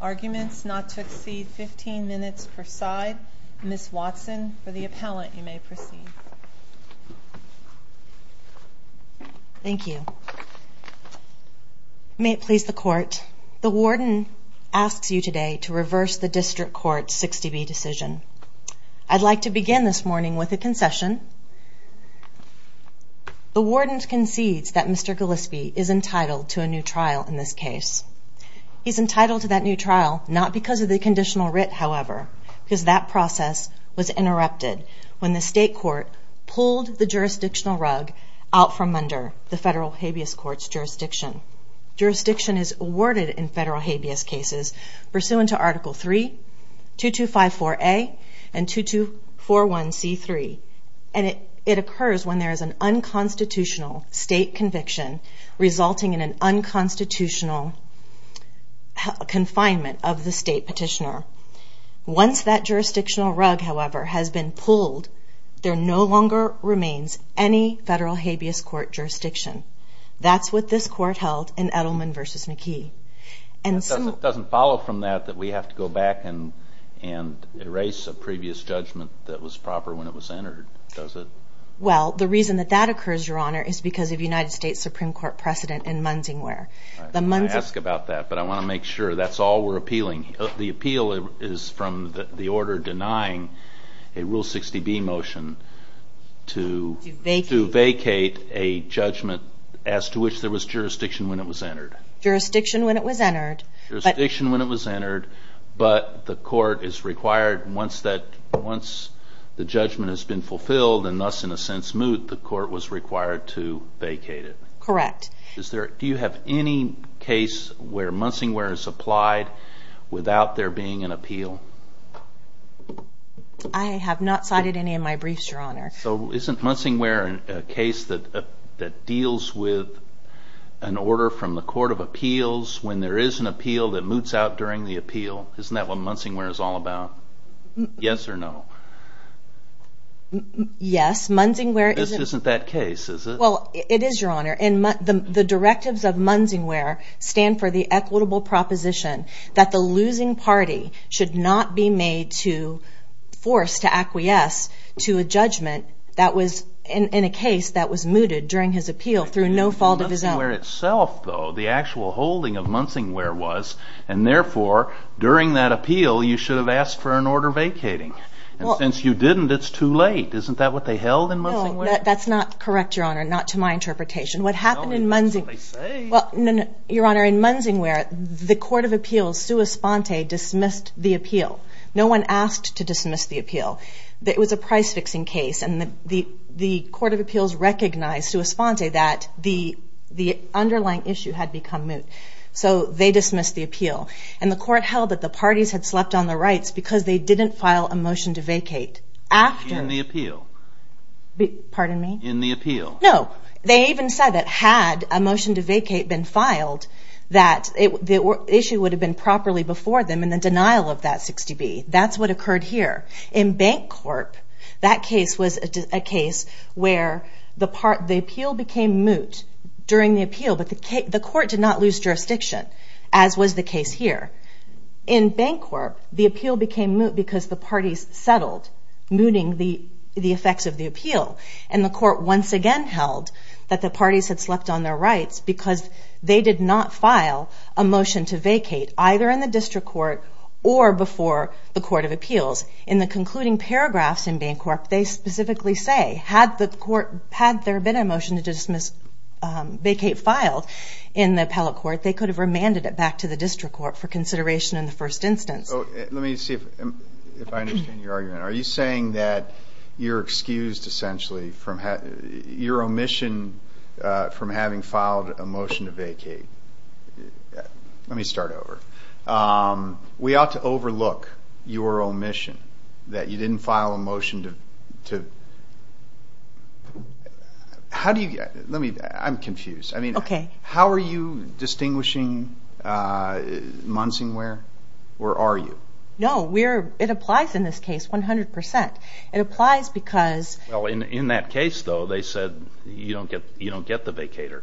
Arguments not to exceed 15 minutes per side. Ms. Watson, for the appellant you may proceed. Thank you. May it please the court, the warden asks you today to reverse the district court's 60B decision. I'd like to begin this morning with a concession. The warden concedes that Mr. Gillispie is entitled to a new trial in this case. He's entitled to that new trial not because of the conditional writ, however, because that process was interrupted when the state court pulled the jurisdictional rug out from under the federal habeas court's jurisdiction. Jurisdiction is awarded in federal habeas cases pursuant to Article 3, 2254A, and 2241C3, and it occurs when there is an unconstitutional state conviction resulting in an unconstitutional confinement of the state petitioner. Once that jurisdictional rug, however, has been pulled, there no longer remains any federal habeas court jurisdiction. That's what this court held in Edelman v. McKee. It doesn't follow from that that we have to go back and erase a previous judgment that was proper when it was entered, does it? Well, the reason that that occurs, your honor, is because of United States Supreme Court precedent in Munsingware. I ask about that, but I want to make sure that's all we're appealing. The appeal is from the order denying a Rule 60B motion to vacate a judgment as to which there was jurisdiction when it was entered. Jurisdiction when it was entered. Jurisdiction when it was entered, but the court is required, once that, the judgment has been fulfilled, and thus, in a sense, moot, the court was required to vacate it. Correct. Do you have any case where Munsingware is applied without there being an appeal? I have not cited any of my briefs, your honor. So, isn't Munsingware a case that deals with an order from the Court of Appeals when there is an appeal that moots out during the appeal? Isn't that what Munsingware is all about? Yes or no? Yes, Munsingware... This isn't that case, is it? Well, it is, your honor, and the directives of Munsingware stand for the equitable proposition that the losing party should not be made to force, to acquiesce, to a judgment that was, in a case, that was mooted during his appeal through no fault of his own. In Munsingware itself, though, the actual holding of Munsingware was, and therefore, during that appeal, you should have asked for an order vacating. And since you didn't, it's too late. Isn't that what they held in Munsingware? That's not correct, your honor, not to my interpretation. What happened in Munsingware... Your honor, in Munsingware, the Court of Appeals, sua sponte, dismissed the appeal. No one asked to dismiss the appeal. It was a price-fixing case and the Court of Appeals recognized, sua sponte, that the underlying issue had become moot. So, they dismissed the appeal. And the Court held that the parties had slept on their rights because they didn't file a motion to vacate after... In the appeal? Pardon me? In the appeal? No. They even said that had a motion to vacate been filed, that the issue would have been properly before them in the denial of that 60B. That's what occurred here. In Bancorp, that case was a case where the appeal became moot during the appeal, but the Court did not lose jurisdiction, as was the case here. In Bancorp, the appeal became moot because the parties settled, mooting the effects of the appeal. And the Court once again held that the parties had slept on their rights because they did not file a motion to vacate, either in the District Court or before the Court of Appeals. In the concluding paragraphs in Bancorp, they specifically say, had the Court, had there been a motion to dismiss, vacate filed in the Appellate Court, they could have remanded it back to the District Court for consideration in the first instance. Let me see if I understand your argument. Are you saying that you're excused, essentially, from your omission from having filed a motion to vacate? Let me start over. We ought to overlook your omission that you didn't file a motion to... How do you... I'm confused. How are you distinguishing Munsingware or are you? No, it applies in this case, 100%. It applies because... Well, in that case, though, they said you don't get the vacator.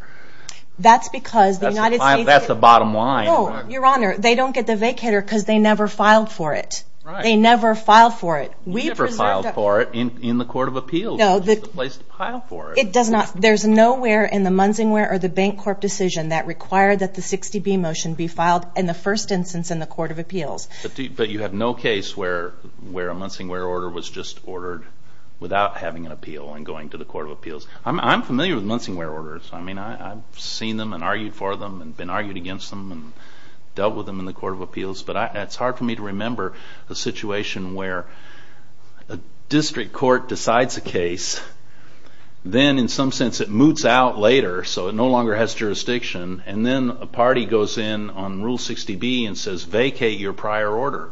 That's because the United States... That's the bottom line. No, Your Honor, they don't get the vacator because they never filed for it. They never filed for it. We preserved... You never filed for it in the Court of Appeals, which is the place to file for it. It does not. There's nowhere in the Munsingware or the Bancorp decision that required that the 60B motion be filed in the first instance in the Court of Appeals. But you have no case where a Munsingware order was just ordered without having an appeal and going to the Court of Appeals. I'm familiar with Munsingware orders. I mean, I've seen them and argued for them and been argued against them and dealt with them in the Court of Appeals, but it's hard for me to remember a situation where a district court decides a case, then in some sense it moots out later so it no longer has jurisdiction, and then a party goes in on Rule 60B and says, vacate your prior order.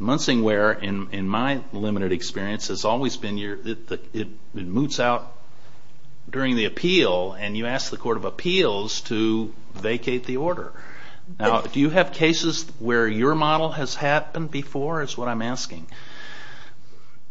Munsingware, in my limited experience, has always been your... It moots out during the appeal, and you ask the Court of Appeals to vacate the order. Now, do you have cases where your model has happened before, is what I'm asking?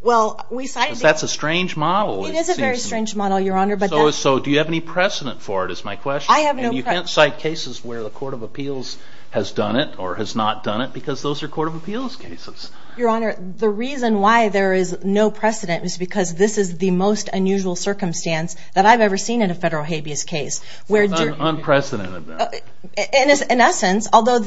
Well, we cite... Because that's a strange model. It is a very strange model, Your Honor, but... So, do you have any precedent for it, is my question. I have no precedent. And you can't cite cases where the Court of Appeals has done it or has not done it, because those are Court of Appeals cases. Your Honor, the reason why there is no precedent is because this is the most unusual circumstance that I've ever seen in a federal habeas case. So it's an unprecedented event. In essence, although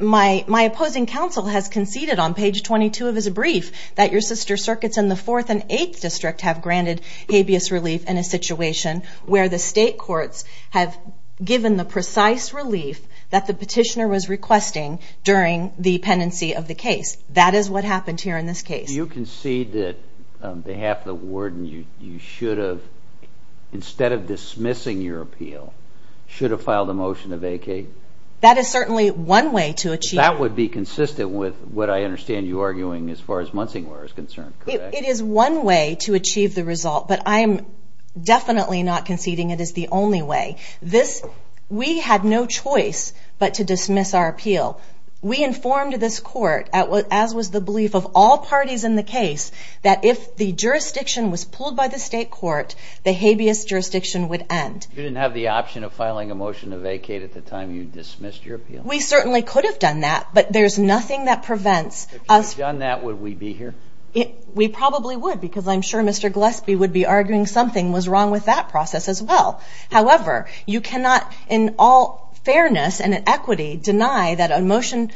my opposing counsel has conceded on page 22 of his brief that your sister circuits in the Fourth and Eighth District have granted habeas relief in a situation where the state courts have given the precise relief that the petitioner was requesting during the pendency of the case. That is what happened here in this case. Do you concede that on behalf of the warden, you should have, instead of dismissing your appeal, should have filed a motion to vacate? That is certainly one way to achieve... That would be consistent with what I understand you arguing as far as Munsingware is concerned, correct? It is one way to achieve the result, but I am definitely not conceding it is the only way. We had no choice but to dismiss our appeal. We informed this Court, as was the belief of all parties in the case, that if the jurisdiction was pulled by the state court, the habeas jurisdiction would end. You didn't have the option of filing a motion to dismiss your appeal? We certainly could have done that, but there's nothing that prevents us... If you had done that, would we be here? We probably would, because I'm sure Mr. Gillespie would be arguing something was wrong with that process as well. However, you cannot, in all fairness and equity, deny that a motion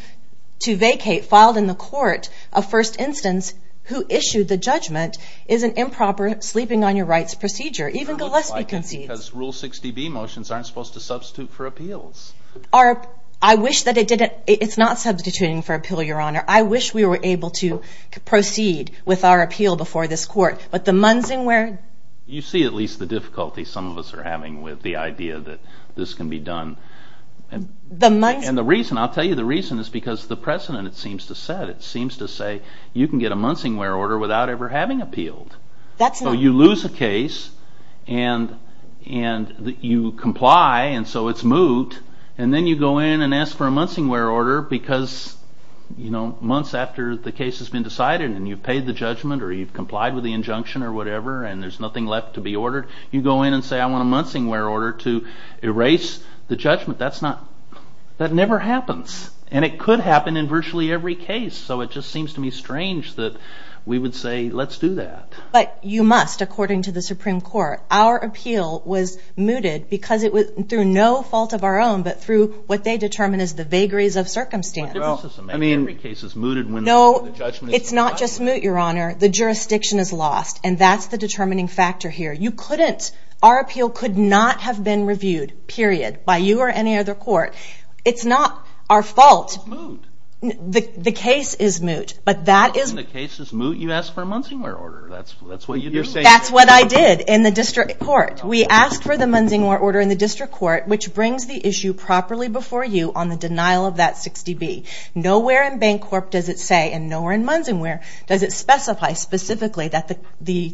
to vacate filed in the court of first instance who issued the judgment is an improper sleeping on your rights procedure. Even Gillespie concedes... Because Rule 60B motions aren't supposed to substitute for appeals. I wish that it didn't. It's not substituting for appeal, Your Honor. I wish we were able to proceed with our appeal before this Court, but the Munsingware... You see at least the difficulty some of us are having with the idea that this can be done. The Munsingware... And the reason, I'll tell you the reason, is because the President, it seems to say, you can get a Munsingware order without ever having appealed. That's not... So you lose a case and you comply and so it's moved and then you go in and ask for a Munsingware order because you know months after the case has been decided and you've paid the judgment or you've complied with the injunction or whatever and there's nothing left to be ordered. You go in and say I want a Munsingware order to erase the judgment. That's not... That never happens. And it could happen in virtually every case. So it just seems to me strange that we would say let's do that. But you must according to the Supreme Court. Our appeal was mooted because it was through no fault of our own but through what they determine is the vagaries of circumstance. I mean every case is mooted... No, it's not just moot, Your Honor. The jurisdiction is lost and that's the determining factor here. You couldn't... Our appeal could not have been reviewed, period, by you or any other court. It's not our fault. The case is moot, but that is... When the case is moot you ask for a Munsingware order. That's what you're saying. That's what I did in the district court. We asked for the Munsingware order in the district court which brings the issue properly before you on the denial of that 60B. Nowhere in Bancorp does it say and nowhere in Munsingware does it specify specifically that the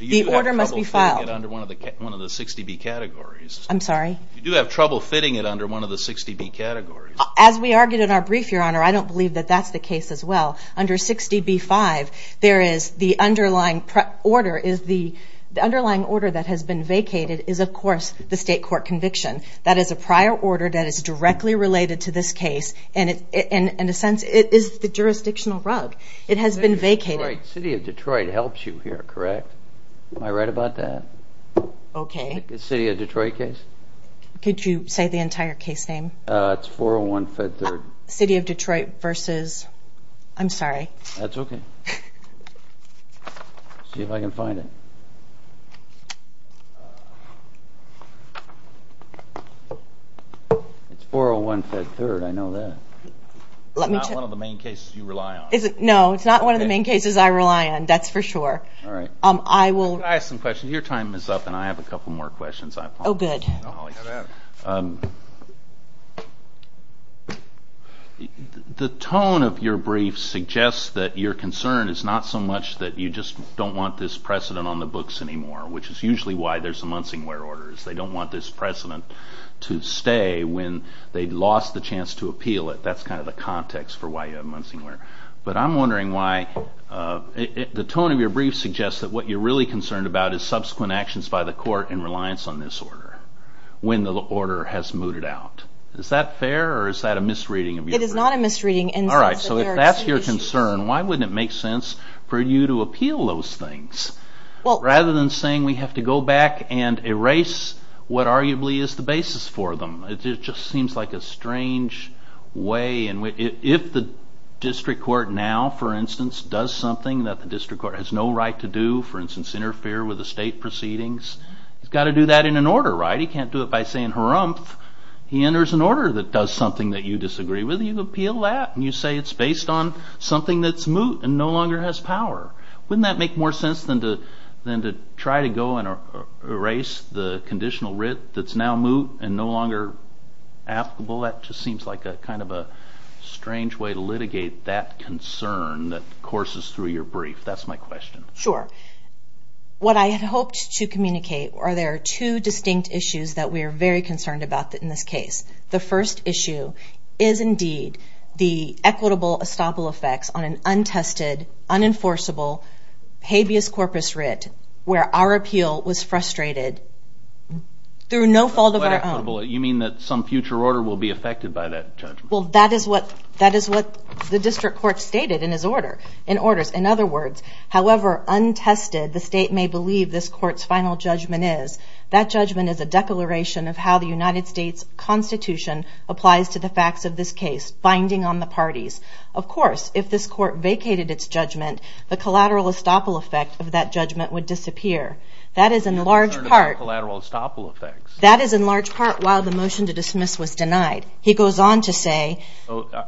the order must be filed. You do have trouble fitting it under one of the 60B categories. I'm sorry? You do have trouble fitting it under one of the 60B categories. As we argued in our brief, Your Honor, I don't believe that that's the case as well. Under 60B-5 there is the underlying order. The underlying order that has been vacated is, of course, the state court conviction. That is a prior order that is directly related to this case and in a sense it is the jurisdictional rug. It has been vacated. The City of Detroit helps you here, correct? Am I right about that? Okay. The City of Detroit case? Could you say the entire case name? It's 401-Fed-3rd. City of Detroit versus... I'm sorry. That's okay. See if I can find it. It's 401-Fed-3rd. I know that. It's not one of the main cases you rely on. No, it's not one of the main cases I rely on. That's for sure. I will... Can I ask some questions? Your time is up and I have a couple more questions. Oh, good. Go ahead. The tone of your brief suggests that your concern is not so much that you just don't want this precedent on the books anymore, which is usually why there's a Munsingware order. They don't want this precedent to stay when they've lost the chance to appeal it. That's kind of the context for why you have Munsingware. But I'm wondering why... The tone of your brief suggests that what you're really concerned about is when the order has mooted out. Is that fair or is that a misreading of your brief? It is not a misreading. If that's your concern, why wouldn't it make sense for you to appeal those things rather than saying we have to go back and erase what arguably is the basis for them? It just seems like a strange way. If the district court now, for instance, does something that the district court has no right to do, for instance, interfere with the state proceedings, he's got to do that in an order, right? He can't do it by saying harumph. He enters an order that does something that you disagree with. You appeal that and you say it's based on something that's moot and no longer has power. Wouldn't that make more sense than to try to go and erase the conditional writ that's now moot and no longer applicable? That just seems like a kind of a strange way to litigate that concern that courses through your brief. That's my question. Sure. What I had hoped to communicate are there are two distinct issues that we are very concerned about in this case. The first issue is indeed the equitable estoppel effects on an untested, unenforceable, habeas corpus writ where our appeal was frustrated through no fault of our own. You mean that some future order will be affected by that judgment? Well, that is what the district court stated in his order. In other words, however untested the state may believe this court's final judgment is, that judgment is a declaration of how the United States Constitution applies to the facts of this case, binding on the parties. Of course, if this court vacated its judgment, the collateral estoppel effect of that judgment would disappear. That is in large part... You're concerned about collateral estoppel effects? That is in large part while the motion to dismiss was denied. He goes on to say...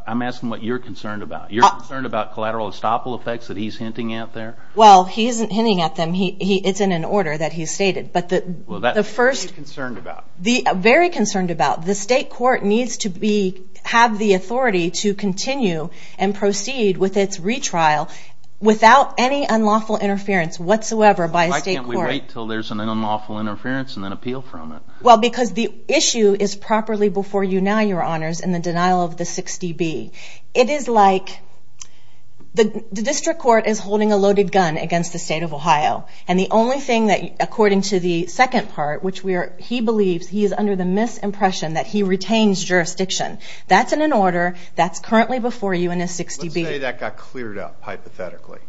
I'm asking what you're concerned about. You're concerned about collateral estoppel effects that he's hinting at there? Well, he isn't hinting at them. It's in an order that he stated. Well, that's what I'm concerned about. I'm very concerned about. The state court needs to have the authority to continue and proceed with its retrial without any unlawful interference whatsoever by a state court. Why can't we wait until there's an unlawful interference and then appeal from it? Well, because the issue is properly before you now, your honors, in the denial of the 60B. It is like the district court is holding a loaded gun against the state of Ohio and the only thing that, according to the second part, which he believes he is under the misimpression that he retains jurisdiction. That's in an order that's currently before you in a 60B. Let's say that got cleared up hypothetically.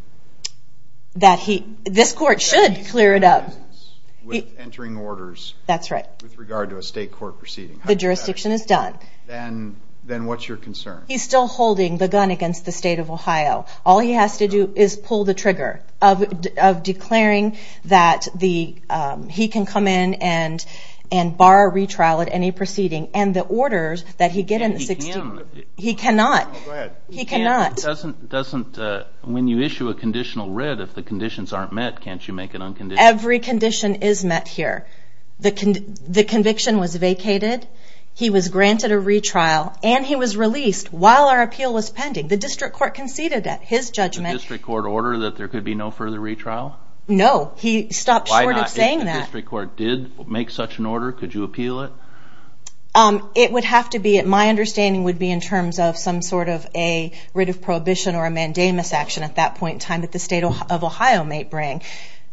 This court should clear it up. With entering orders with regard to a state court proceeding. That's right. The jurisdiction is done. Then what's your concern? He's still holding the gun against the state of Ohio. All he has to do is pull the trigger of declaring that he can come in and bar a retrial at any proceeding. And the orders that he get in the 60B, he cannot. He cannot. When you issue a conditional writ, if the conditions aren't met, can't you make an unconditional writ? Every condition is met here. The conviction was vacated. He was granted a retrial and he was released while our appeal was pending. The district court conceded at his judgment. Did the district court order that there could be no further retrial? No. He stopped short of saying that. If the district court did make such an order, could you appeal it? My understanding would be in terms of some sort of a writ of prohibition or a mandamus action at that point in time that the state of Ohio may bring.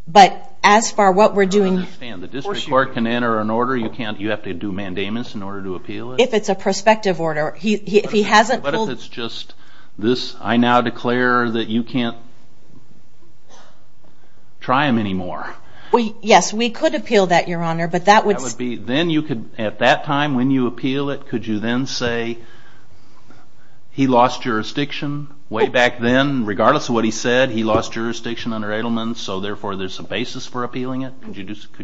But as far as what we're doing... I understand. The district court can enter an order. You have to do a mandamus in order to appeal it? If it's a prospective order. If he hasn't pulled... I now declare that you can't try him anymore. Yes, we could appeal that, Your Honor, but that would be... At that time, when you appeal it, could you then say he lost jurisdiction way back then? Regardless of what he said, he lost jurisdiction under Edelman, so therefore there's a basis for appealing it? Could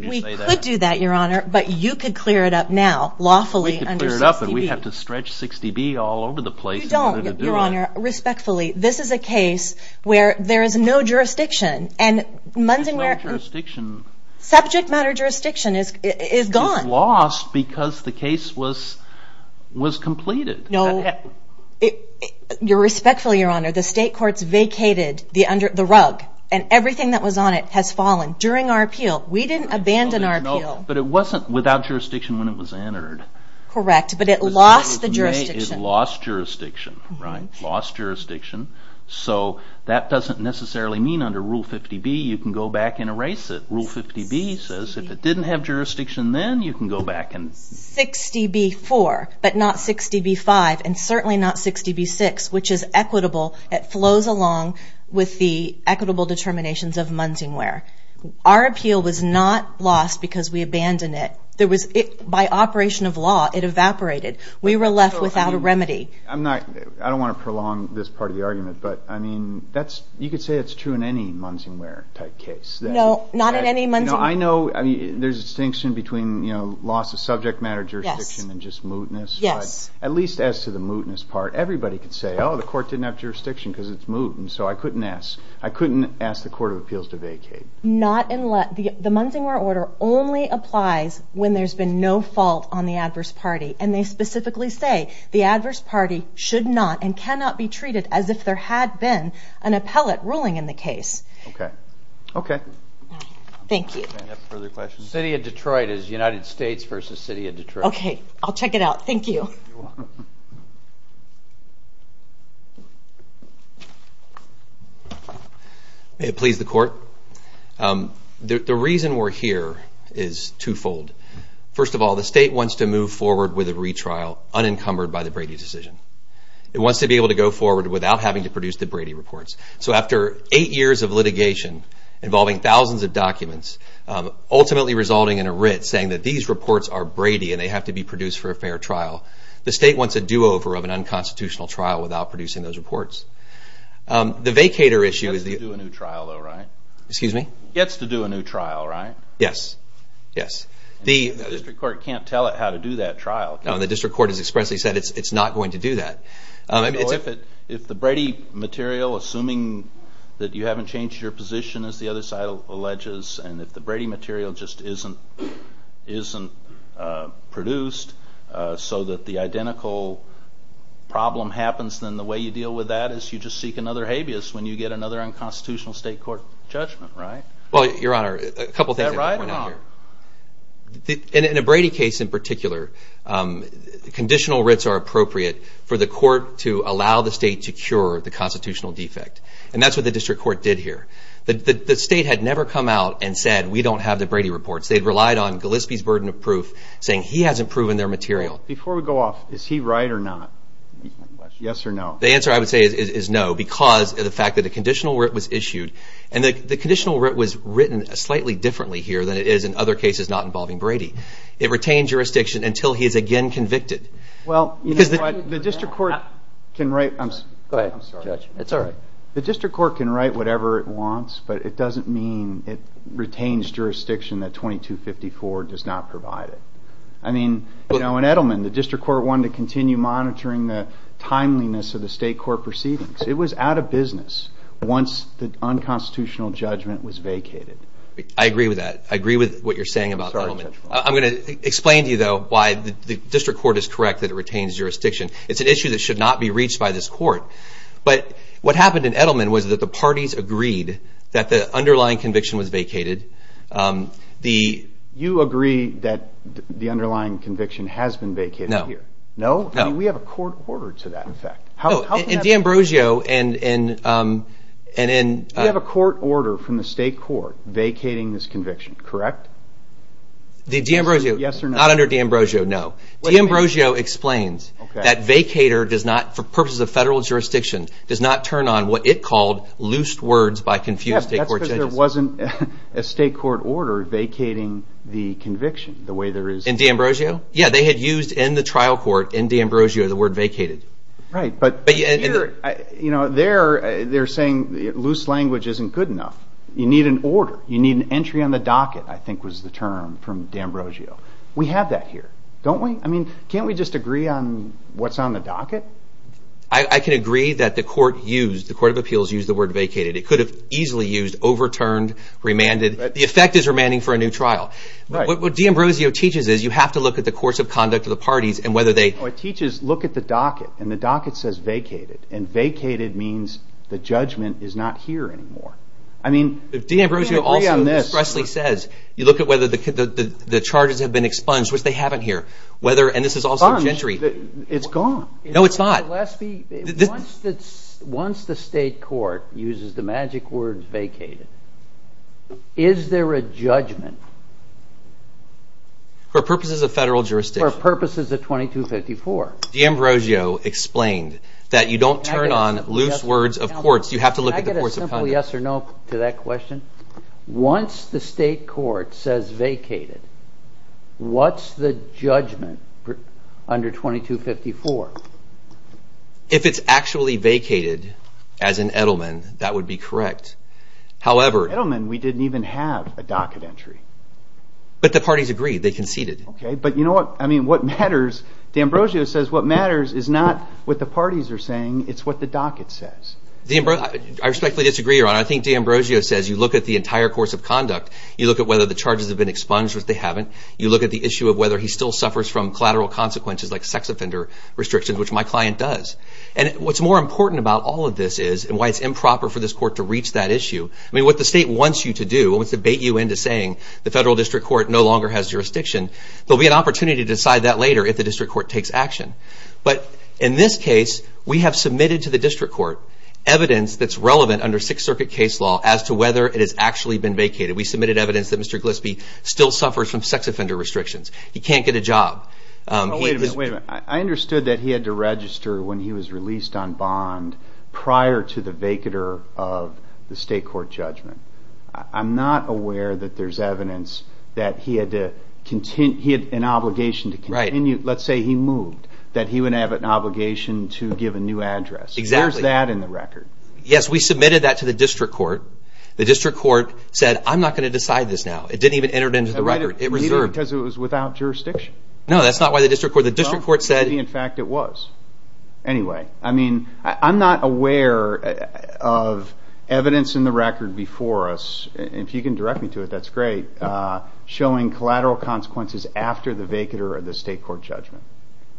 you say that? We could do that, Your Honor, but you could clear it up now, lawfully, under 60B. We could clear it up, but we'd have to stretch 60B all over the place in order to do that. You don't, Your Honor. Respectfully, this is a case where there is no jurisdiction, and Munsinger... Subject matter jurisdiction is gone. It's lost because the case was completed. Respectfully, Your Honor, the state courts vacated the rug, and everything that was on it has fallen. During our appeal, we didn't abandon our appeal. But it wasn't without jurisdiction when it was entered. Correct, but it lost the jurisdiction. It lost jurisdiction, right? Lost jurisdiction. That doesn't necessarily mean under Rule 50B you can go back and erase it. Rule 50B says if it didn't have jurisdiction then you can go back and... 60B4, but not 60B5, and certainly not 60B6, which is equitable. It flows along with the equitable determinations of Munsinger. Our appeal was not lost because we abandoned it. By operation of law, it evaporated. We were left without a remedy. I don't want to prolong this part of the argument, but you could say it's true in any Munsinger-type case. No, not in any Munsinger-type case. I know there's a distinction between loss of subject matter jurisdiction and just mootness. At least as to the mootness part, everybody could say, oh, the court didn't have jurisdiction because it's I couldn't ask the Court of Appeals to vacate. The Munsinger order only applies when there's been no fault on the adverse party, and they specifically say the adverse party should not and cannot be treated as if there had been an appellate ruling in the case. Thank you. City of Detroit is United States versus City of Detroit. I'll check it out. Thank you. May it please the Court. The reason we're here is twofold. First of all, the state wants to move forward with a retrial unencumbered by the Brady decision. It wants to be able to go forward without having to produce the Brady reports. So after eight years of litigation involving thousands of documents, ultimately resulting in a writ saying that these reports are Brady and they have to be produced for a fair trial, the state wants a do-over of an unconstitutional trial without producing those reports. The vacator issue... Gets to do a new trial though, right? Excuse me? Gets to do a new trial, right? Yes. The district court can't tell it how to do that trial. The district court has If the Brady material, assuming that you haven't changed your position, as the other side alleges, and if the Brady material just isn't produced so that the identical problem happens, then the way you deal with that is you just seek another habeas when you get another unconstitutional state court judgment, right? Well, Your Honor, a couple of things... Is that right or wrong? In a Brady case in particular, conditional writs are appropriate for the court to allow the state to cure the constitutional defect. And that's what the district court did here. The state had never come out and said, we don't have the Brady reports. They relied on Gillespie's burden of proof, saying he hasn't proven their material. Before we go off, is he right or not? Yes or no? The answer I would say is no, because of the fact that a conditional writ was issued, and the conditional writ was written slightly differently here than it is in other cases not involving Brady. It retained jurisdiction until he is again convicted. Well, the district court can write... Go ahead, Judge. It's all right. The district court can write whatever it wants, but it doesn't mean it retains jurisdiction that 2254 does not provide it. In Edelman, the district court wanted to continue monitoring the timeliness of the state court proceedings. It was out of business once the unconstitutional judgment was vacated. I agree with that. I agree with what you're saying about Edelman. I'm going to explain to you, though, why the district court is correct that it retains jurisdiction. It's an issue that should not be reached by this court, but what happened in Edelman was that the parties agreed that the underlying conviction was vacated. You agree that the underlying conviction has been vacated here? No. No? We have a court order to that effect. In D'Ambrosio and... We have a court order from the state court vacating this conviction, correct? Not under D'Ambrosio, no. D'Ambrosio explains that vacater, for purposes of federal jurisdiction, does not turn on what it called loose words by confused state court judges. That's because there wasn't a state court order vacating the conviction the way there is... In D'Ambrosio? Yeah, they had used in the trial court in D'Ambrosio the word vacated. Right, but here, they're saying that loose language isn't good enough. You need an order. You need an entry on the docket, I think was the term from D'Ambrosio. We have that here, don't we? I mean, can't we just agree on what's on the docket? I can agree that the court of appeals used the word vacated. It could have easily used overturned, remanded. The effect is remanding for a new trial. What D'Ambrosio teaches is you have to look at the course of conduct of the parties and whether they... What it teaches, look at the docket, and the docket says vacated, and vacated means the judgment is not here anymore. I mean, can we agree on this? D'Ambrosio also expressly says, you look at whether the charges have been expunged, which they haven't here, whether, and this is also Gentry... Expunged, it's gone. No, it's not. Gillespie, once the state court uses the magic word vacated, is there a judgment? For purposes of federal jurisdiction. For purposes of 2254. D'Ambrosio explained that you don't turn on loose words of courts, you have to look at the course of conduct. Can I get a simple yes or no to that question? Once the state court says vacated, what's the judgment under 2254? If it's actually vacated, as in Edelman, that would be correct. However... Edelman, we didn't even have a docket entry. But the parties agreed, they conceded. Okay, but you know what, I mean, what matters, D'Ambrosio says what matters is not what the parties are saying, it's what the docket says. I respectfully disagree, Your Honor. I think D'Ambrosio says you look at the entire course of conduct, you look at whether the charges have been expunged or if they haven't, you look at the issue of whether he still suffers from collateral consequences like sex offender restrictions, which my client does. And what's more important about all of this is, and why it's improper for this court to reach that issue, I mean, what the state wants you to do, wants to bait you into saying the federal district court no longer has jurisdiction, there'll be an opportunity to decide that later if the district court takes action. But in this case, we have submitted to the district court evidence that's relevant under Sixth Circuit case law as to whether it has actually been vacated. We submitted evidence that Mr. Gillespie still suffers from sex offender restrictions. He can't get a job. Wait a minute, I understood that he had to register when he was released on bond prior to the vacater of the state court judgment. I'm not aware that there's evidence that he had an obligation to continue, let's say he moved, that he would have an obligation to give a new address. Where's that in the record? Yes, we submitted that to the district court. The district court said, I'm not going to decide this now. It didn't even enter it into the record. It reserved. Because it was without jurisdiction. No, that's not why the district court, the district court said. Well, maybe in fact it was. Anyway, I mean, I'm not aware of evidence in the record before us, if you can direct me to it, that's great, showing collateral consequences after the vacater of the state court judgment.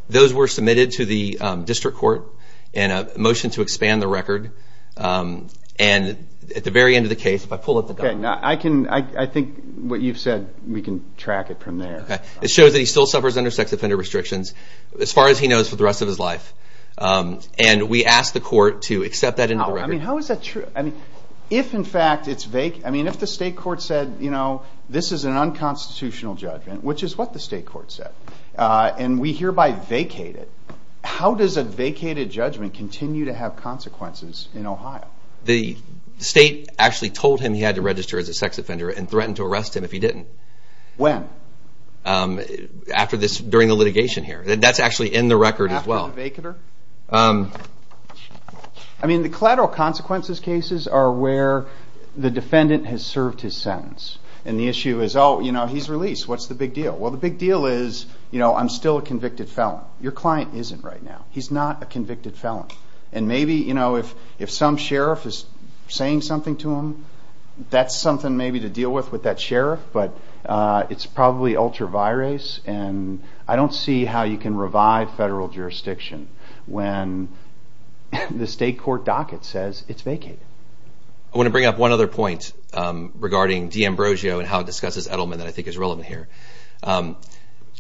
Those were submitted to the district court in a motion to expand the record. And at the very end of the case, if I pull up the document. I can, I think what you've said, we can track it from there. It shows that he still suffers under sex offender restrictions, as far as he knows for the rest of his life. And we asked the court to accept that into the record. I mean, how is that true? I mean, if in fact it's vague, I mean, if the state court said, this is an unconstitutional judgment, which is what the state court said. And we hereby vacate it. How does a vacated judgment continue to have consequences in Ohio? The state actually told him he had to register as a sex offender, and threatened to arrest him if he didn't. When? After this, during the litigation here. That's actually in the record as well. After the vacater? I mean, the collateral consequences cases are where the defendant has served his sentence. And the issue is, oh, you know, he's released. What's the big deal? Well, the big deal is, you know, I'm still a convicted felon. Your client isn't right now. He's not a convicted felon. And maybe, you know, if some sheriff is saying something to him, that's something maybe to deal with with that sheriff. But it's probably ultra virus. And I don't see how you can revive federal jurisdiction when the state court docket says it's vacated. I want to bring up one other point regarding D'Ambrosio and how it discusses Edelman that I think is relevant here.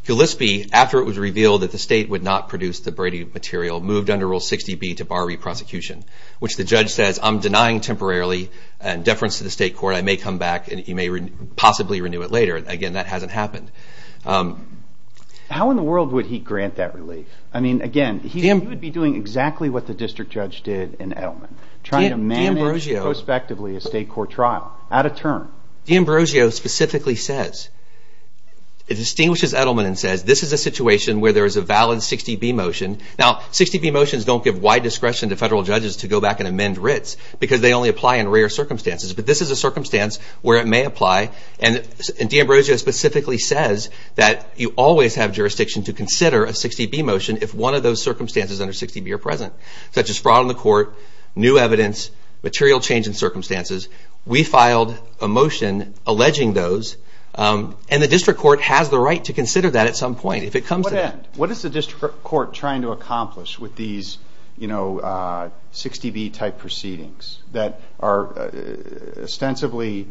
Gillispie, after it was revealed that the state would not produce the Brady material, moved under Rule 60B to bar re-prosecution, which the judge says, I'm denying temporarily and deference to the state court. I may come back, and he may possibly renew it later. Again, that hasn't happened. How in the world would he grant that relief? I mean, again, he would be doing exactly what the district judge did in Edelman. Trying to manage prospectively a state court trial at a turn. D'Ambrosio specifically says, it distinguishes Edelman and says, this is a situation where there is a valid 60B motion. Now, 60B motions don't give wide discretion to federal judges to go back and amend writs because they only apply in rare circumstances. But this is a circumstance where it may apply. And D'Ambrosio specifically says that you always have jurisdiction to consider a 60B motion if one of those circumstances under 60B are present, such as fraud on the court, new evidence, material change in circumstances. We filed a motion alleging those, and the district court has the right to consider that at some point if it comes to that. What is the district court trying to accomplish with these 60B type proceedings that are ostensibly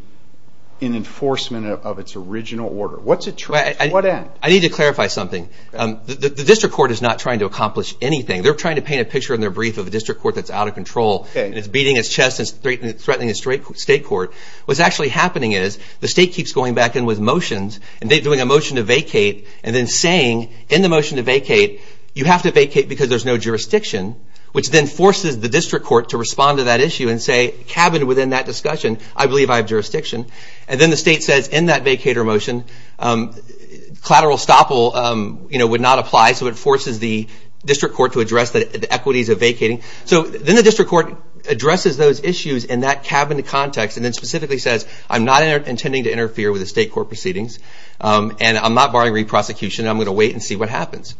in enforcement of its original order? What's it trying to do? I need to clarify something. The district court is not trying to accomplish anything. They're trying to paint a picture in their brief of a district court that's out of control, and it's beating its chest and threatening a state court. What's actually happening is the state keeps going back in with motions, and they're doing a motion to vacate, and then saying, in the motion to vacate, you have to vacate because there's no jurisdiction, which then forces the district court to respond to that issue and say, cabined within that discussion, I believe I have jurisdiction. And then the state says, in that vacater motion, collateral estoppel would not apply, so it forces the district court to address the equities of vacating. So then the district court addresses those issues in that cabined context, and then specifically says, I'm not intending to interfere with the state court proceedings, and I'm not barring re-prosecution. I'm going to wait and see what happens.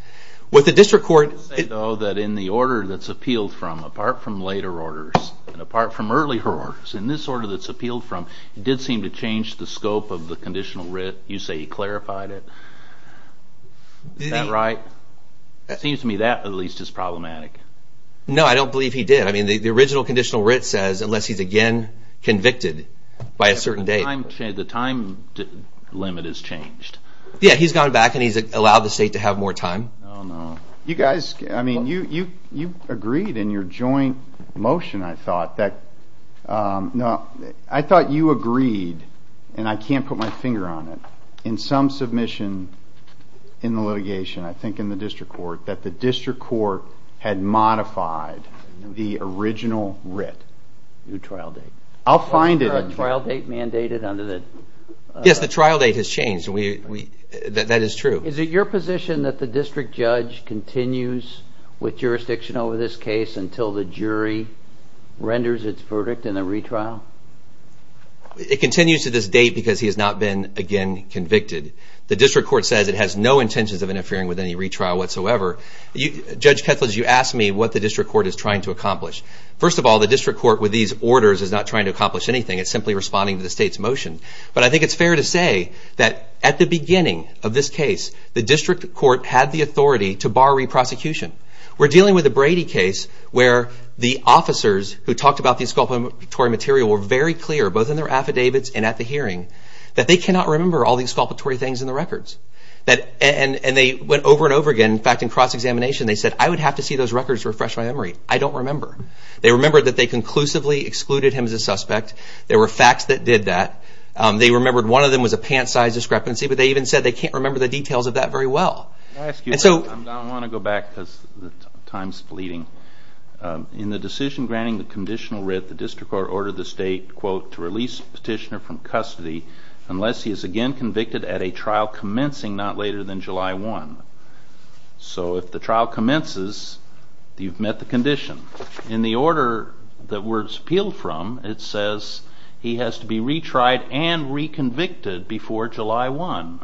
With the district court, though, that in the order that's appealed from, apart from later orders, and apart from earlier orders, in this order that's appealed from, it did seem to change the scope of the conditional writ. You say he clarified it. Is that right? Seems to me that, at least, is problematic. No, I don't believe he did. I mean, the original conditional writ says, unless he's again convicted by a certain date. The time limit has changed. Yeah, he's gone back, and he's allowed the state to have more time. You guys, I mean, you agreed in your joint motion, I thought, that, I thought you agreed, and I can't put my finger on it, in some submission in the litigation, I think in the district court, that the district court had modified the original writ. New trial date. I'll find it. Wasn't there a trial date mandated under the? Yes, the trial date has changed. That is true. Is it your position that the district judge continues with jurisdiction over this case until the jury renders its verdict in the retrial? It continues to this date because he has not been, again, convicted. The district court says it has no intentions of interfering with any retrial whatsoever. Judge Ketledge, you asked me what the district court is trying to accomplish. First of all, the district court, with these orders, is not trying to accomplish anything. It's simply responding to the state's motion. But I think it's fair to say that at the beginning of this case, the district court had the authority to bar re-prosecution. We're dealing with a Brady case where the officers who talked about the exculpatory material were very clear, both in their affidavits and at the hearing, that they cannot remember all these exculpatory things in the records. And they went over and over again. In fact, in cross-examination, they said, I would have to see those records to refresh my memory. I don't remember. They remember that they conclusively excluded him as a suspect. There were facts that did that. They remembered one of them was a pant-sized discrepancy. But they even said they can't remember the details of that very well. Can I ask you a question? In the decision granting the conditional writ, the district court ordered the state, quote, to release petitioner from custody unless he is again convicted at a trial commencing not later than July 1. So if the trial commences, you've met the condition. In the order that we're appealed from, it says he has to be retried and reconvicted before July 1,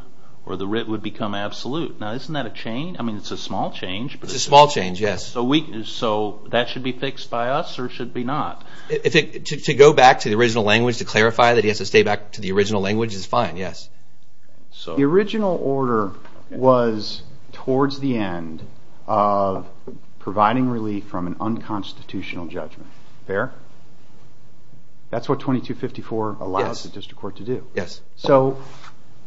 or the writ would become absolute. Now, isn't that a change? I mean, it's a small change. It's a small change, yes. So that should be fixed by us, or should it be not? To go back to the original language to clarify that he has to stay back to the original language is fine, yes. The original order was towards the end of providing relief from an unconstitutional judgment. Fair? That's what 2254 allows the district court to do. So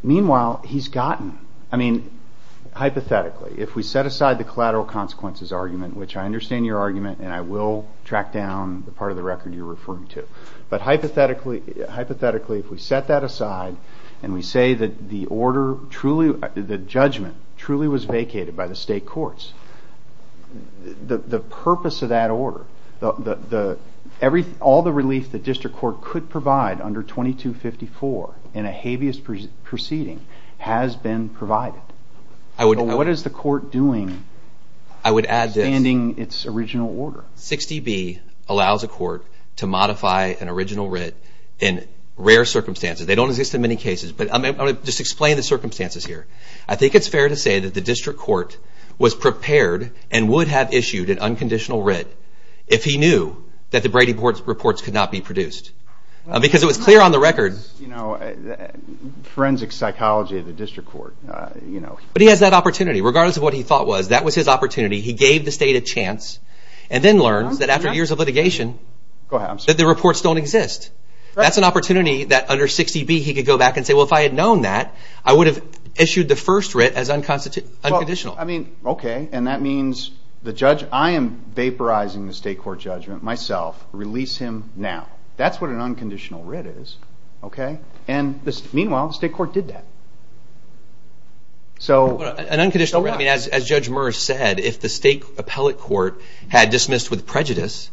meanwhile, he's gotten, I mean, hypothetically, if we set aside the collateral consequences argument, which I understand your argument, and I will track down the part of the record you're referring to. But hypothetically, if we set that aside, and we say that the judgment truly was vacated by the state courts, the purpose of that order, all the relief the district court could provide under 2254 in a habeas proceeding has been provided. What is the court doing? I would add that 60B allows the district court to modify an original writ in rare circumstances. They don't exist in many cases. But I'm going to just explain the circumstances here. I think it's fair to say that the district court was prepared and would have issued an unconditional writ if he knew that the Brady reports could not be produced. Because it was clear on the record. Forensic psychology of the district court. But he has that opportunity. Regardless of what he thought was, that was his opportunity. He gave the state a chance, and then learns that after years of litigation, that the reports don't exist. That's an opportunity that under 60B he could go back and say, well, if I had known that, I would have issued the first writ as unconditional. I mean, OK. And that means the judge, I am vaporizing the state court judgment myself. Release him now. That's what an unconditional writ is. And meanwhile, the state court did that. So. An unconditional writ, I mean, as Judge Merz said, if the state appellate court had dismissed with prejudice,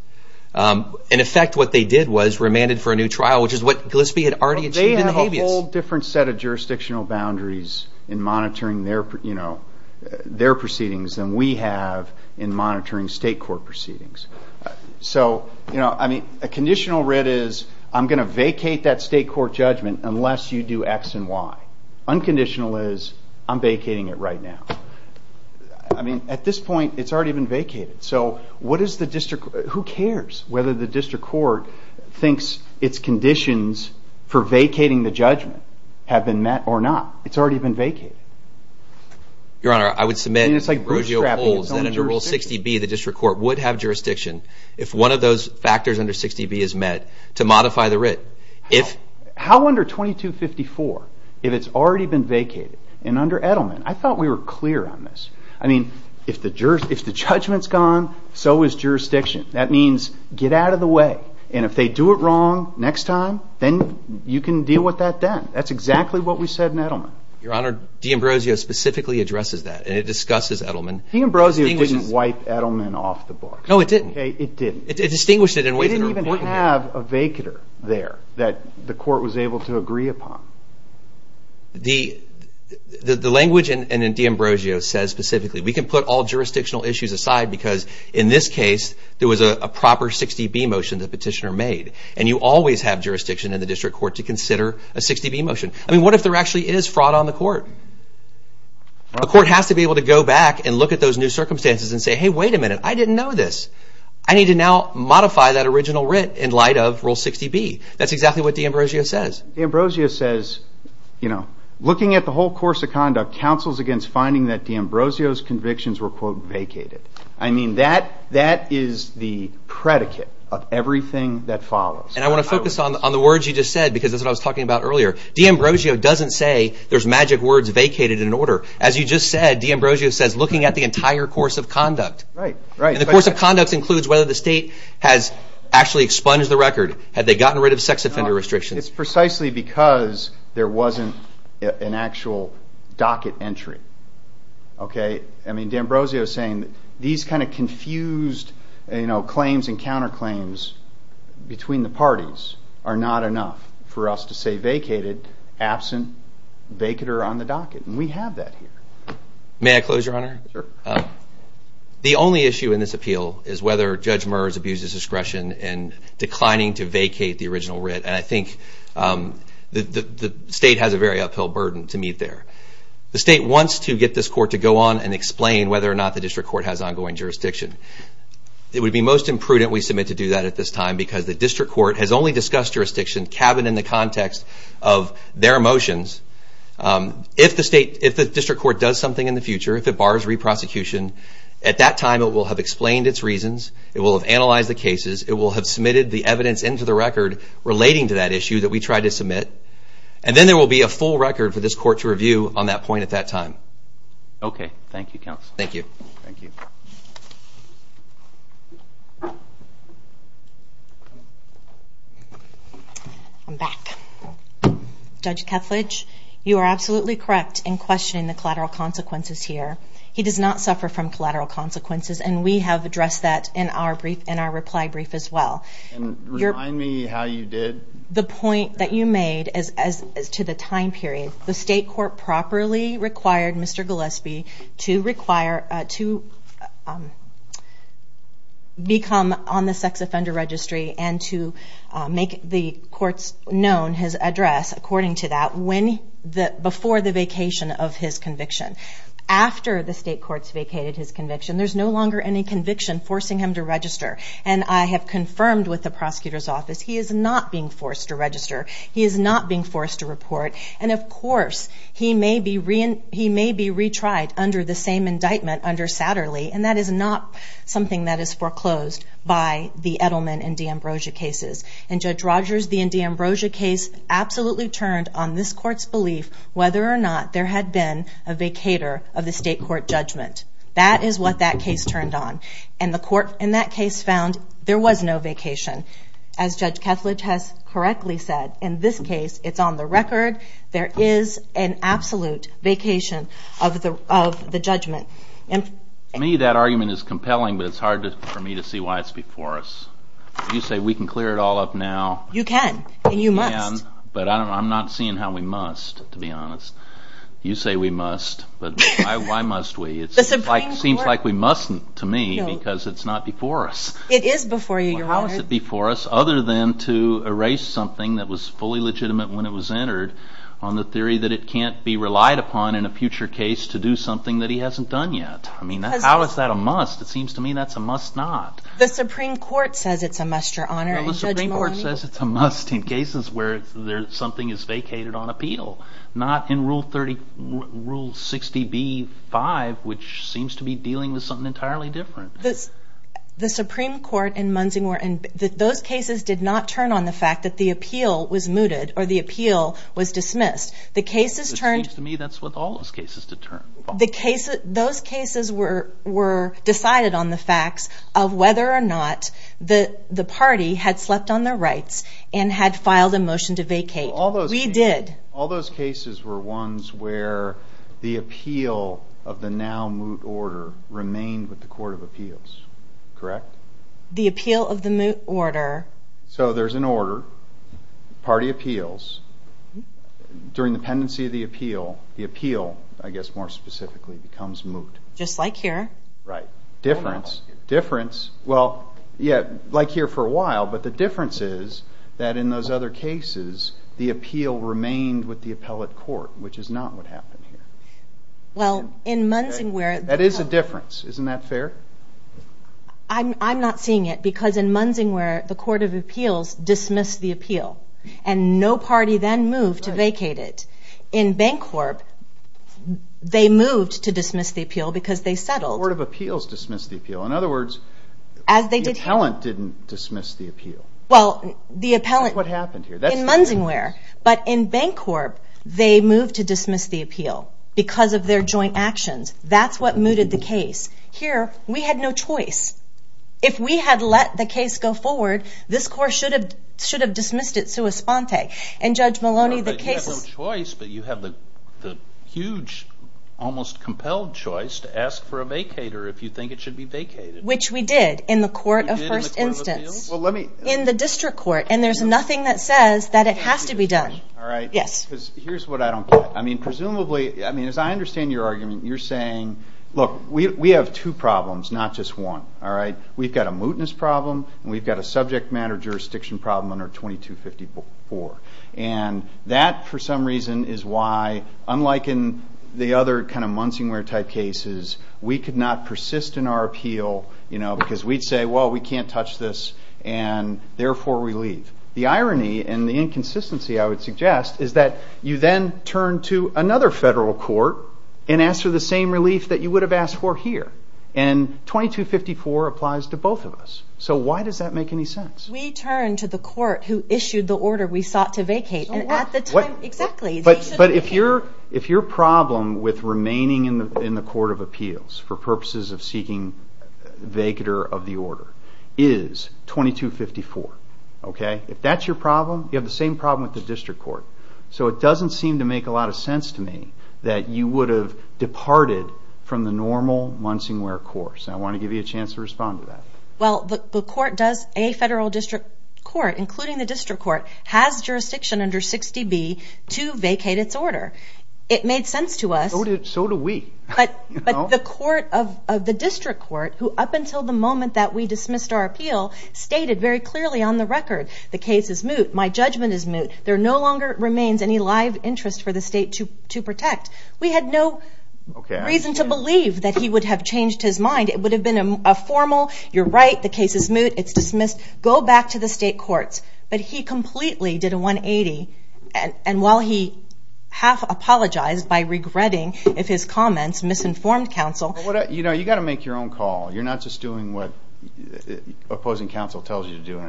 in effect, what they did was remanded for a new trial, which is what Gillespie had already achieved in the habeas. They have a whole different set of jurisdictional boundaries in monitoring their proceedings than we have in monitoring state court proceedings. So, I mean, a conditional writ is, I'm going to vacate that state court judgment unless you do x and y. Unconditional is, I'm vacating it right now. I mean, at this point, it's already been vacated. So what is the district, who cares whether the district court thinks its conditions for vacating the judgment have been met or not? It's already been vacated. Your Honor, I would submit, and it's like bootstrapping its own jurisdiction. And it's like Rogelio Polls, that under Rule 60B, the district court would have jurisdiction if one of those factors under 60B is met to modify the writ. How under 2254, if it's already been vacated? And under Edelman? I thought we were clear on this. I mean, if the judgment's gone, so is jurisdiction. That means, get out of the way. And if they do it wrong next time, then you can deal with that then. That's exactly what we said in Edelman. Your Honor, De Ambrosio specifically addresses that. And it discusses Edelman. De Ambrosio didn't wipe Edelman off the books. No, it didn't. It didn't. It distinguished it in ways that are important. We didn't even have a vacater there that the court was able to agree upon. The language in De Ambrosio says specifically, we can put all jurisdictional issues aside because in this case, there was a proper 60B motion that the petitioner made. And you always have jurisdiction in the district court to consider a 60B motion. I mean, what if there actually is fraud on the court? The court has to be able to go back and look at those new circumstances and say, hey, wait a minute, I didn't know this. I need to now modify that original writ in light of Rule 60B. That's exactly what De Ambrosio says. De Ambrosio says, you know, looking at the whole course of conduct counsels against finding that De Ambrosio's convictions were, quote, vacated. I mean, that is the predicate of everything that follows. And I want to focus on the words you just said because that's what I was talking about earlier. De Ambrosio doesn't say there's magic words vacated in order. As you just said, De Ambrosio says looking at the entire course of conduct. Right, right. And the course of conduct includes whether the state has actually expunged the record, had they gotten rid of sex offender restrictions. It's precisely because there wasn't an actual docket entry. Okay, I mean, De Ambrosio is saying these kind of confused claims and counterclaims between the parties are not enough for us to say vacated, absent, vacater on the docket. And we have that here. May I close, Your Honor? Sure. The only issue in this appeal is whether Judge Murs abuses discretion in declining to vacate the original writ. And I think the state has a very uphill burden to meet there. The state wants to get this court to go on and explain whether or not the district court has ongoing jurisdiction. It would be most imprudent we submit to do that at this time because the district court has only discussed jurisdiction cabined in the context of their motions. If the district court does something in the future, if it bars re-prosecution, at that time it will have explained its reasons, it will have analyzed the cases, it will have submitted the evidence into the record relating to that issue that we tried to submit. And then there will be a full record for this court to review on that point at that time. Okay, thank you, counsel. Thank you. Thank you. I'm back. Judge Kethledge, you are absolutely correct in questioning the collateral consequences here. He does not suffer from collateral consequences and we have addressed that in our reply brief as well. And remind me how you did? The point that you made as to the time period, the state court properly required Mr. Gillespie to require, to become on the sex offender registry and to make the courts known his address, according to that, before the vacation of his conviction. After the state courts vacated his conviction, there's no longer any conviction forcing him to register. And I have confirmed with the prosecutor's office, he is not being forced to register. He is not being forced to report. And of course, he may be retried under the same indictment under Satterley. And that is not something that is foreclosed by the Edelman and de Ambrosia cases. And Judge Rogers, the de Ambrosia case absolutely turned on this court's belief whether or not there had been a vacator of the state court judgment. That is what that case turned on. And the court in that case found there was no vacation. As Judge Kethledge has correctly said, in this case, it's on the record. There is an absolute vacation of the judgment. To me, that argument is compelling, but it's hard for me to see why it's before us. You say we can clear it all up now. You can, and you must. But I'm not seeing how we must, to be honest. You say we must, but why must we? It seems like we mustn't, to me, because it's not before us. It is before you, Your Honor. Well, how is it before us, other than to erase something that was fully legitimate when it was entered on the theory that it can't be relied upon in a future case to do something that he hasn't done yet? I mean, how is that a must? It seems to me that's a must not. The Supreme Court says it's a must, Your Honor, and Judge Maloney- No, the Supreme Court says it's a must in cases where something is vacated on appeal, not in Rule 60b-5, which seems to be dealing with something entirely different. The Supreme Court in Munsing- Those cases did not turn on the fact that the appeal was mooted or the appeal was dismissed. The cases turned- It seems to me that's with all those cases to turn. Those cases were decided on the facts of whether or not the party had slept on their rights and had filed a motion to vacate. We did. All those cases were ones where the appeal of the now-moot order remained with the Court of Appeals, correct? The appeal of the moot order- So there's an order, party appeals. During the pendency of the appeal, the appeal, I guess more specifically, becomes moot. Just like here. Right, difference, difference. Well, yeah, like here for a while, but the difference is that in those other cases, the appeal remained with the appellate court, which is not what happened here. Well, in Munsing- That is a difference, isn't that fair? I'm not seeing it because in Munsing- where the Court of Appeals dismissed the appeal and no party then moved to vacate it. In Bancorp, they moved to dismiss the appeal because they settled- The Court of Appeals dismissed the appeal. In other words, the appellant didn't dismiss the appeal. Well, the appellant- That's what happened here. In Munsing-where, but in Bancorp, they moved to dismiss the appeal because of their joint actions. That's what mooted the case. Here, we had no choice. If we had let the case go forward, this Court should have dismissed it sua sponte. And Judge Maloney, the case- Well, you have no choice, but you have the huge, almost compelled choice to ask for a vacater if you think it should be vacated. Which we did in the Court of First Instance. Well, let me- In the District Court, and there's nothing that says that it has to be done. All right. Yes. Because here's what I don't get. I mean, presumably, I mean, as I understand your argument, you're saying, look, we have two problems, not just one, all right? We've got a mootness problem, and we've got a subject matter jurisdiction problem under 2254. And that, for some reason, is why, unlike in the other kind of Munsing-where type cases, we could not persist in our appeal, because we'd say, well, we can't touch this, and therefore, we leave. The irony and the inconsistency, I would suggest, is that you then turn to another federal court and ask for the same relief that you would have asked for here. And 2254 applies to both of us. So why does that make any sense? We turn to the court who issued the order we sought to vacate, and at the time, exactly- But if your problem with remaining in the Court of Appeals for purposes of seeking vacater of the order is 2254, okay? If that's your problem, you have the same problem with the district court. So it doesn't seem to make a lot of sense to me that you would have departed from the normal Munsing-where course. I want to give you a chance to respond to that. Well, the court does, a federal district court, including the district court, has jurisdiction under 60B to vacate its order. It made sense to us- So do we. But the court of the district court, who up until the moment that we dismissed our appeal, stated very clearly on the record, the case is moot, my judgment is moot, there no longer remains any live interest for the state to protect. We had no reason to believe that he would have changed his mind. It would have been a formal, you're right, the case is moot, it's dismissed, go back to the state courts. But he completely did a 180, and while he half-apologized by regretting if his comments misinformed counsel- You know, you gotta make your own call. You're not just doing what opposing counsel tells you to do.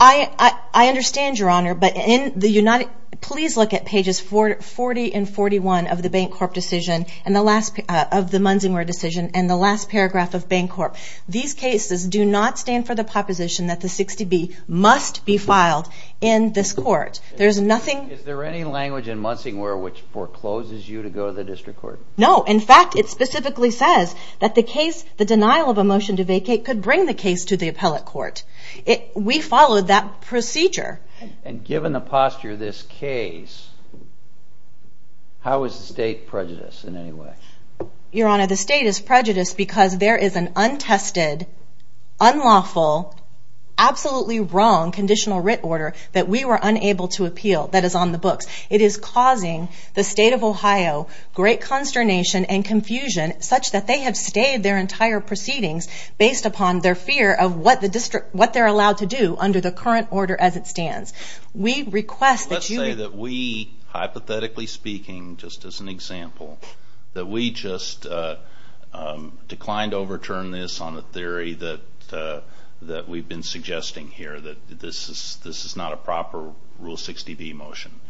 I understand, your honor, but in the United, please look at pages 40 and 41 of the Bancorp decision, and the last, of the Munsing-where decision, and the last paragraph of Bancorp. These cases do not stand for the proposition that the 60B must be filed in this court. There's nothing- Is there any language in Munsing-where which forecloses you to go to the district court? No, in fact, it specifically says that the case, the denial of a motion to vacate, could bring the case to the appellate court. We followed that procedure. And given the posture of this case, how is the state prejudiced in any way? Your honor, the state is prejudiced because there is an untested, unlawful, absolutely wrong conditional writ order that we were unable to appeal that is on the books. It is causing the state of Ohio great consternation and confusion such that they have stayed their entire proceedings based upon their fear of what they're allowed to do under the current order as it stands. We request that you- Let's say that we, hypothetically speaking, just as an example, that we just declined to overturn this on a theory that we've been suggesting here, that this is not a proper Rule 60B motion.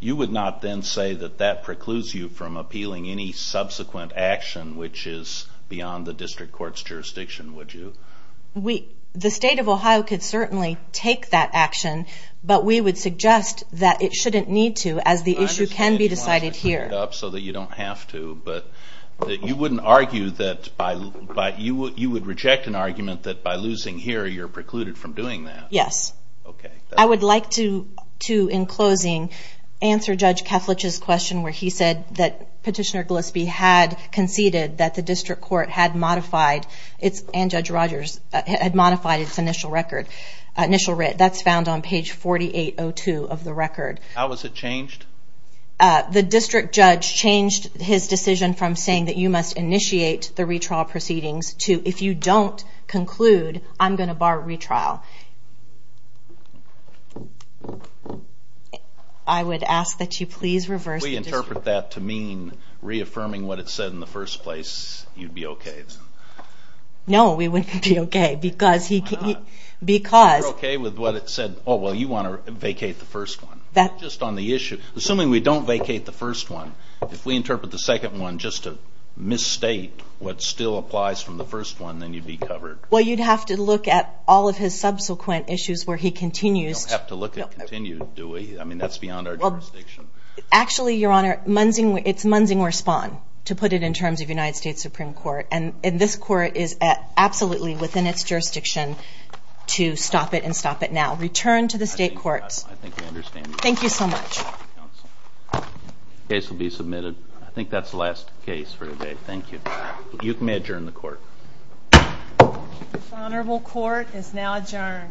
You would not then say that that precludes you from appealing any subsequent action which is beyond the district court's jurisdiction, would you? The state of Ohio could certainly take that action, but we would suggest that it shouldn't need to as the issue can be decided here. I understand you want to put it up so that you don't have to, but you wouldn't argue that by, you would reject an argument that by losing here, you're precluded from doing that. Yes. Okay. I would like to, in closing, answer Judge Keflich's question where he said that Petitioner Gillespie had conceded that the district court had modified its, and Judge Rogers, had modified its initial record, initial writ. That's found on page 4802 of the record. How has it changed? The district judge changed his decision from saying that you must initiate the retrial proceedings to, if you don't conclude, I'm going to bar retrial. I would ask that you please reverse- If we interpret that to mean reaffirming what it said in the first place, you'd be okay. No, we wouldn't be okay, because he, because- You're okay with what it said, oh, well, you want to vacate the first one. That's just on the issue. Assuming we don't vacate the first one, if we interpret the second one just to misstate what still applies from the first one, then you'd be covered. Well, you'd have to look at all of his subsequent issues where he continues- You don't have to look at continued, do we? I mean, that's beyond our jurisdiction. Actually, Your Honor, it's Munsing-Worspon, to put it in terms of United States Supreme Court, and this court is absolutely within its jurisdiction to stop it and stop it now. Return to the state courts. I think I understand. Thank you so much. Case will be submitted. I think that's the last case for today. Thank you. You may adjourn the court. The Honorable Court is now adjourned.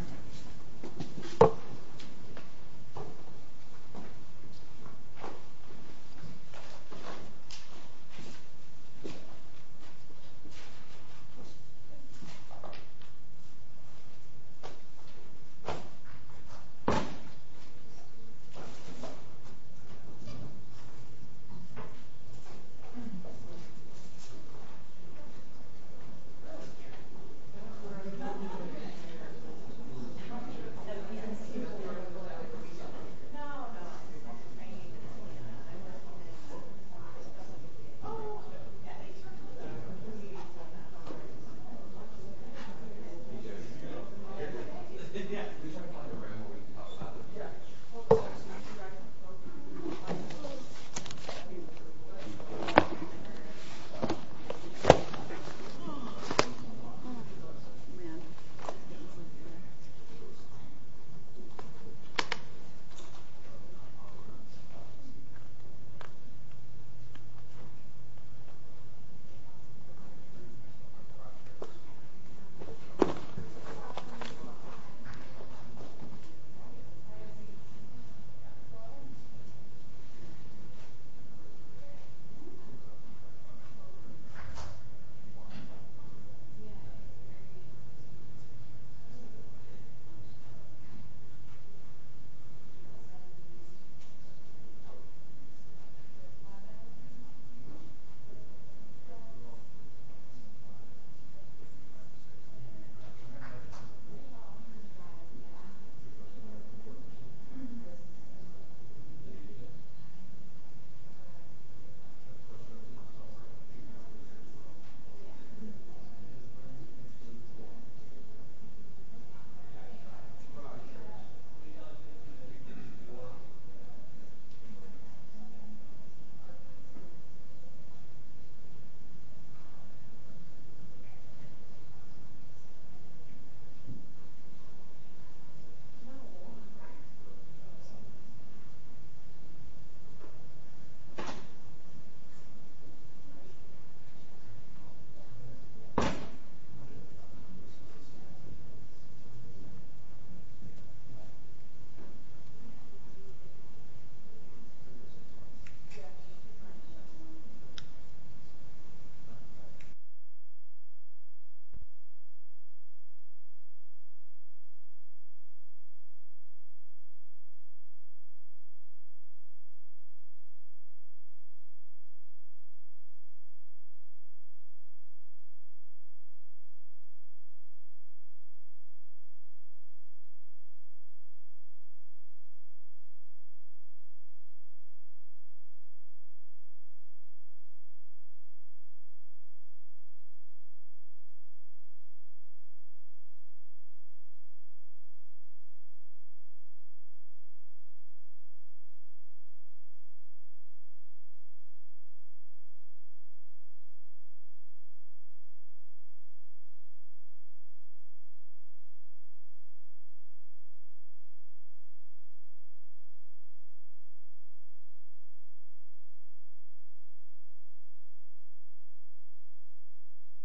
Thank you, Your Honor. Thank you. Thank you. Thank you. Thank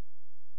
you. Thank you.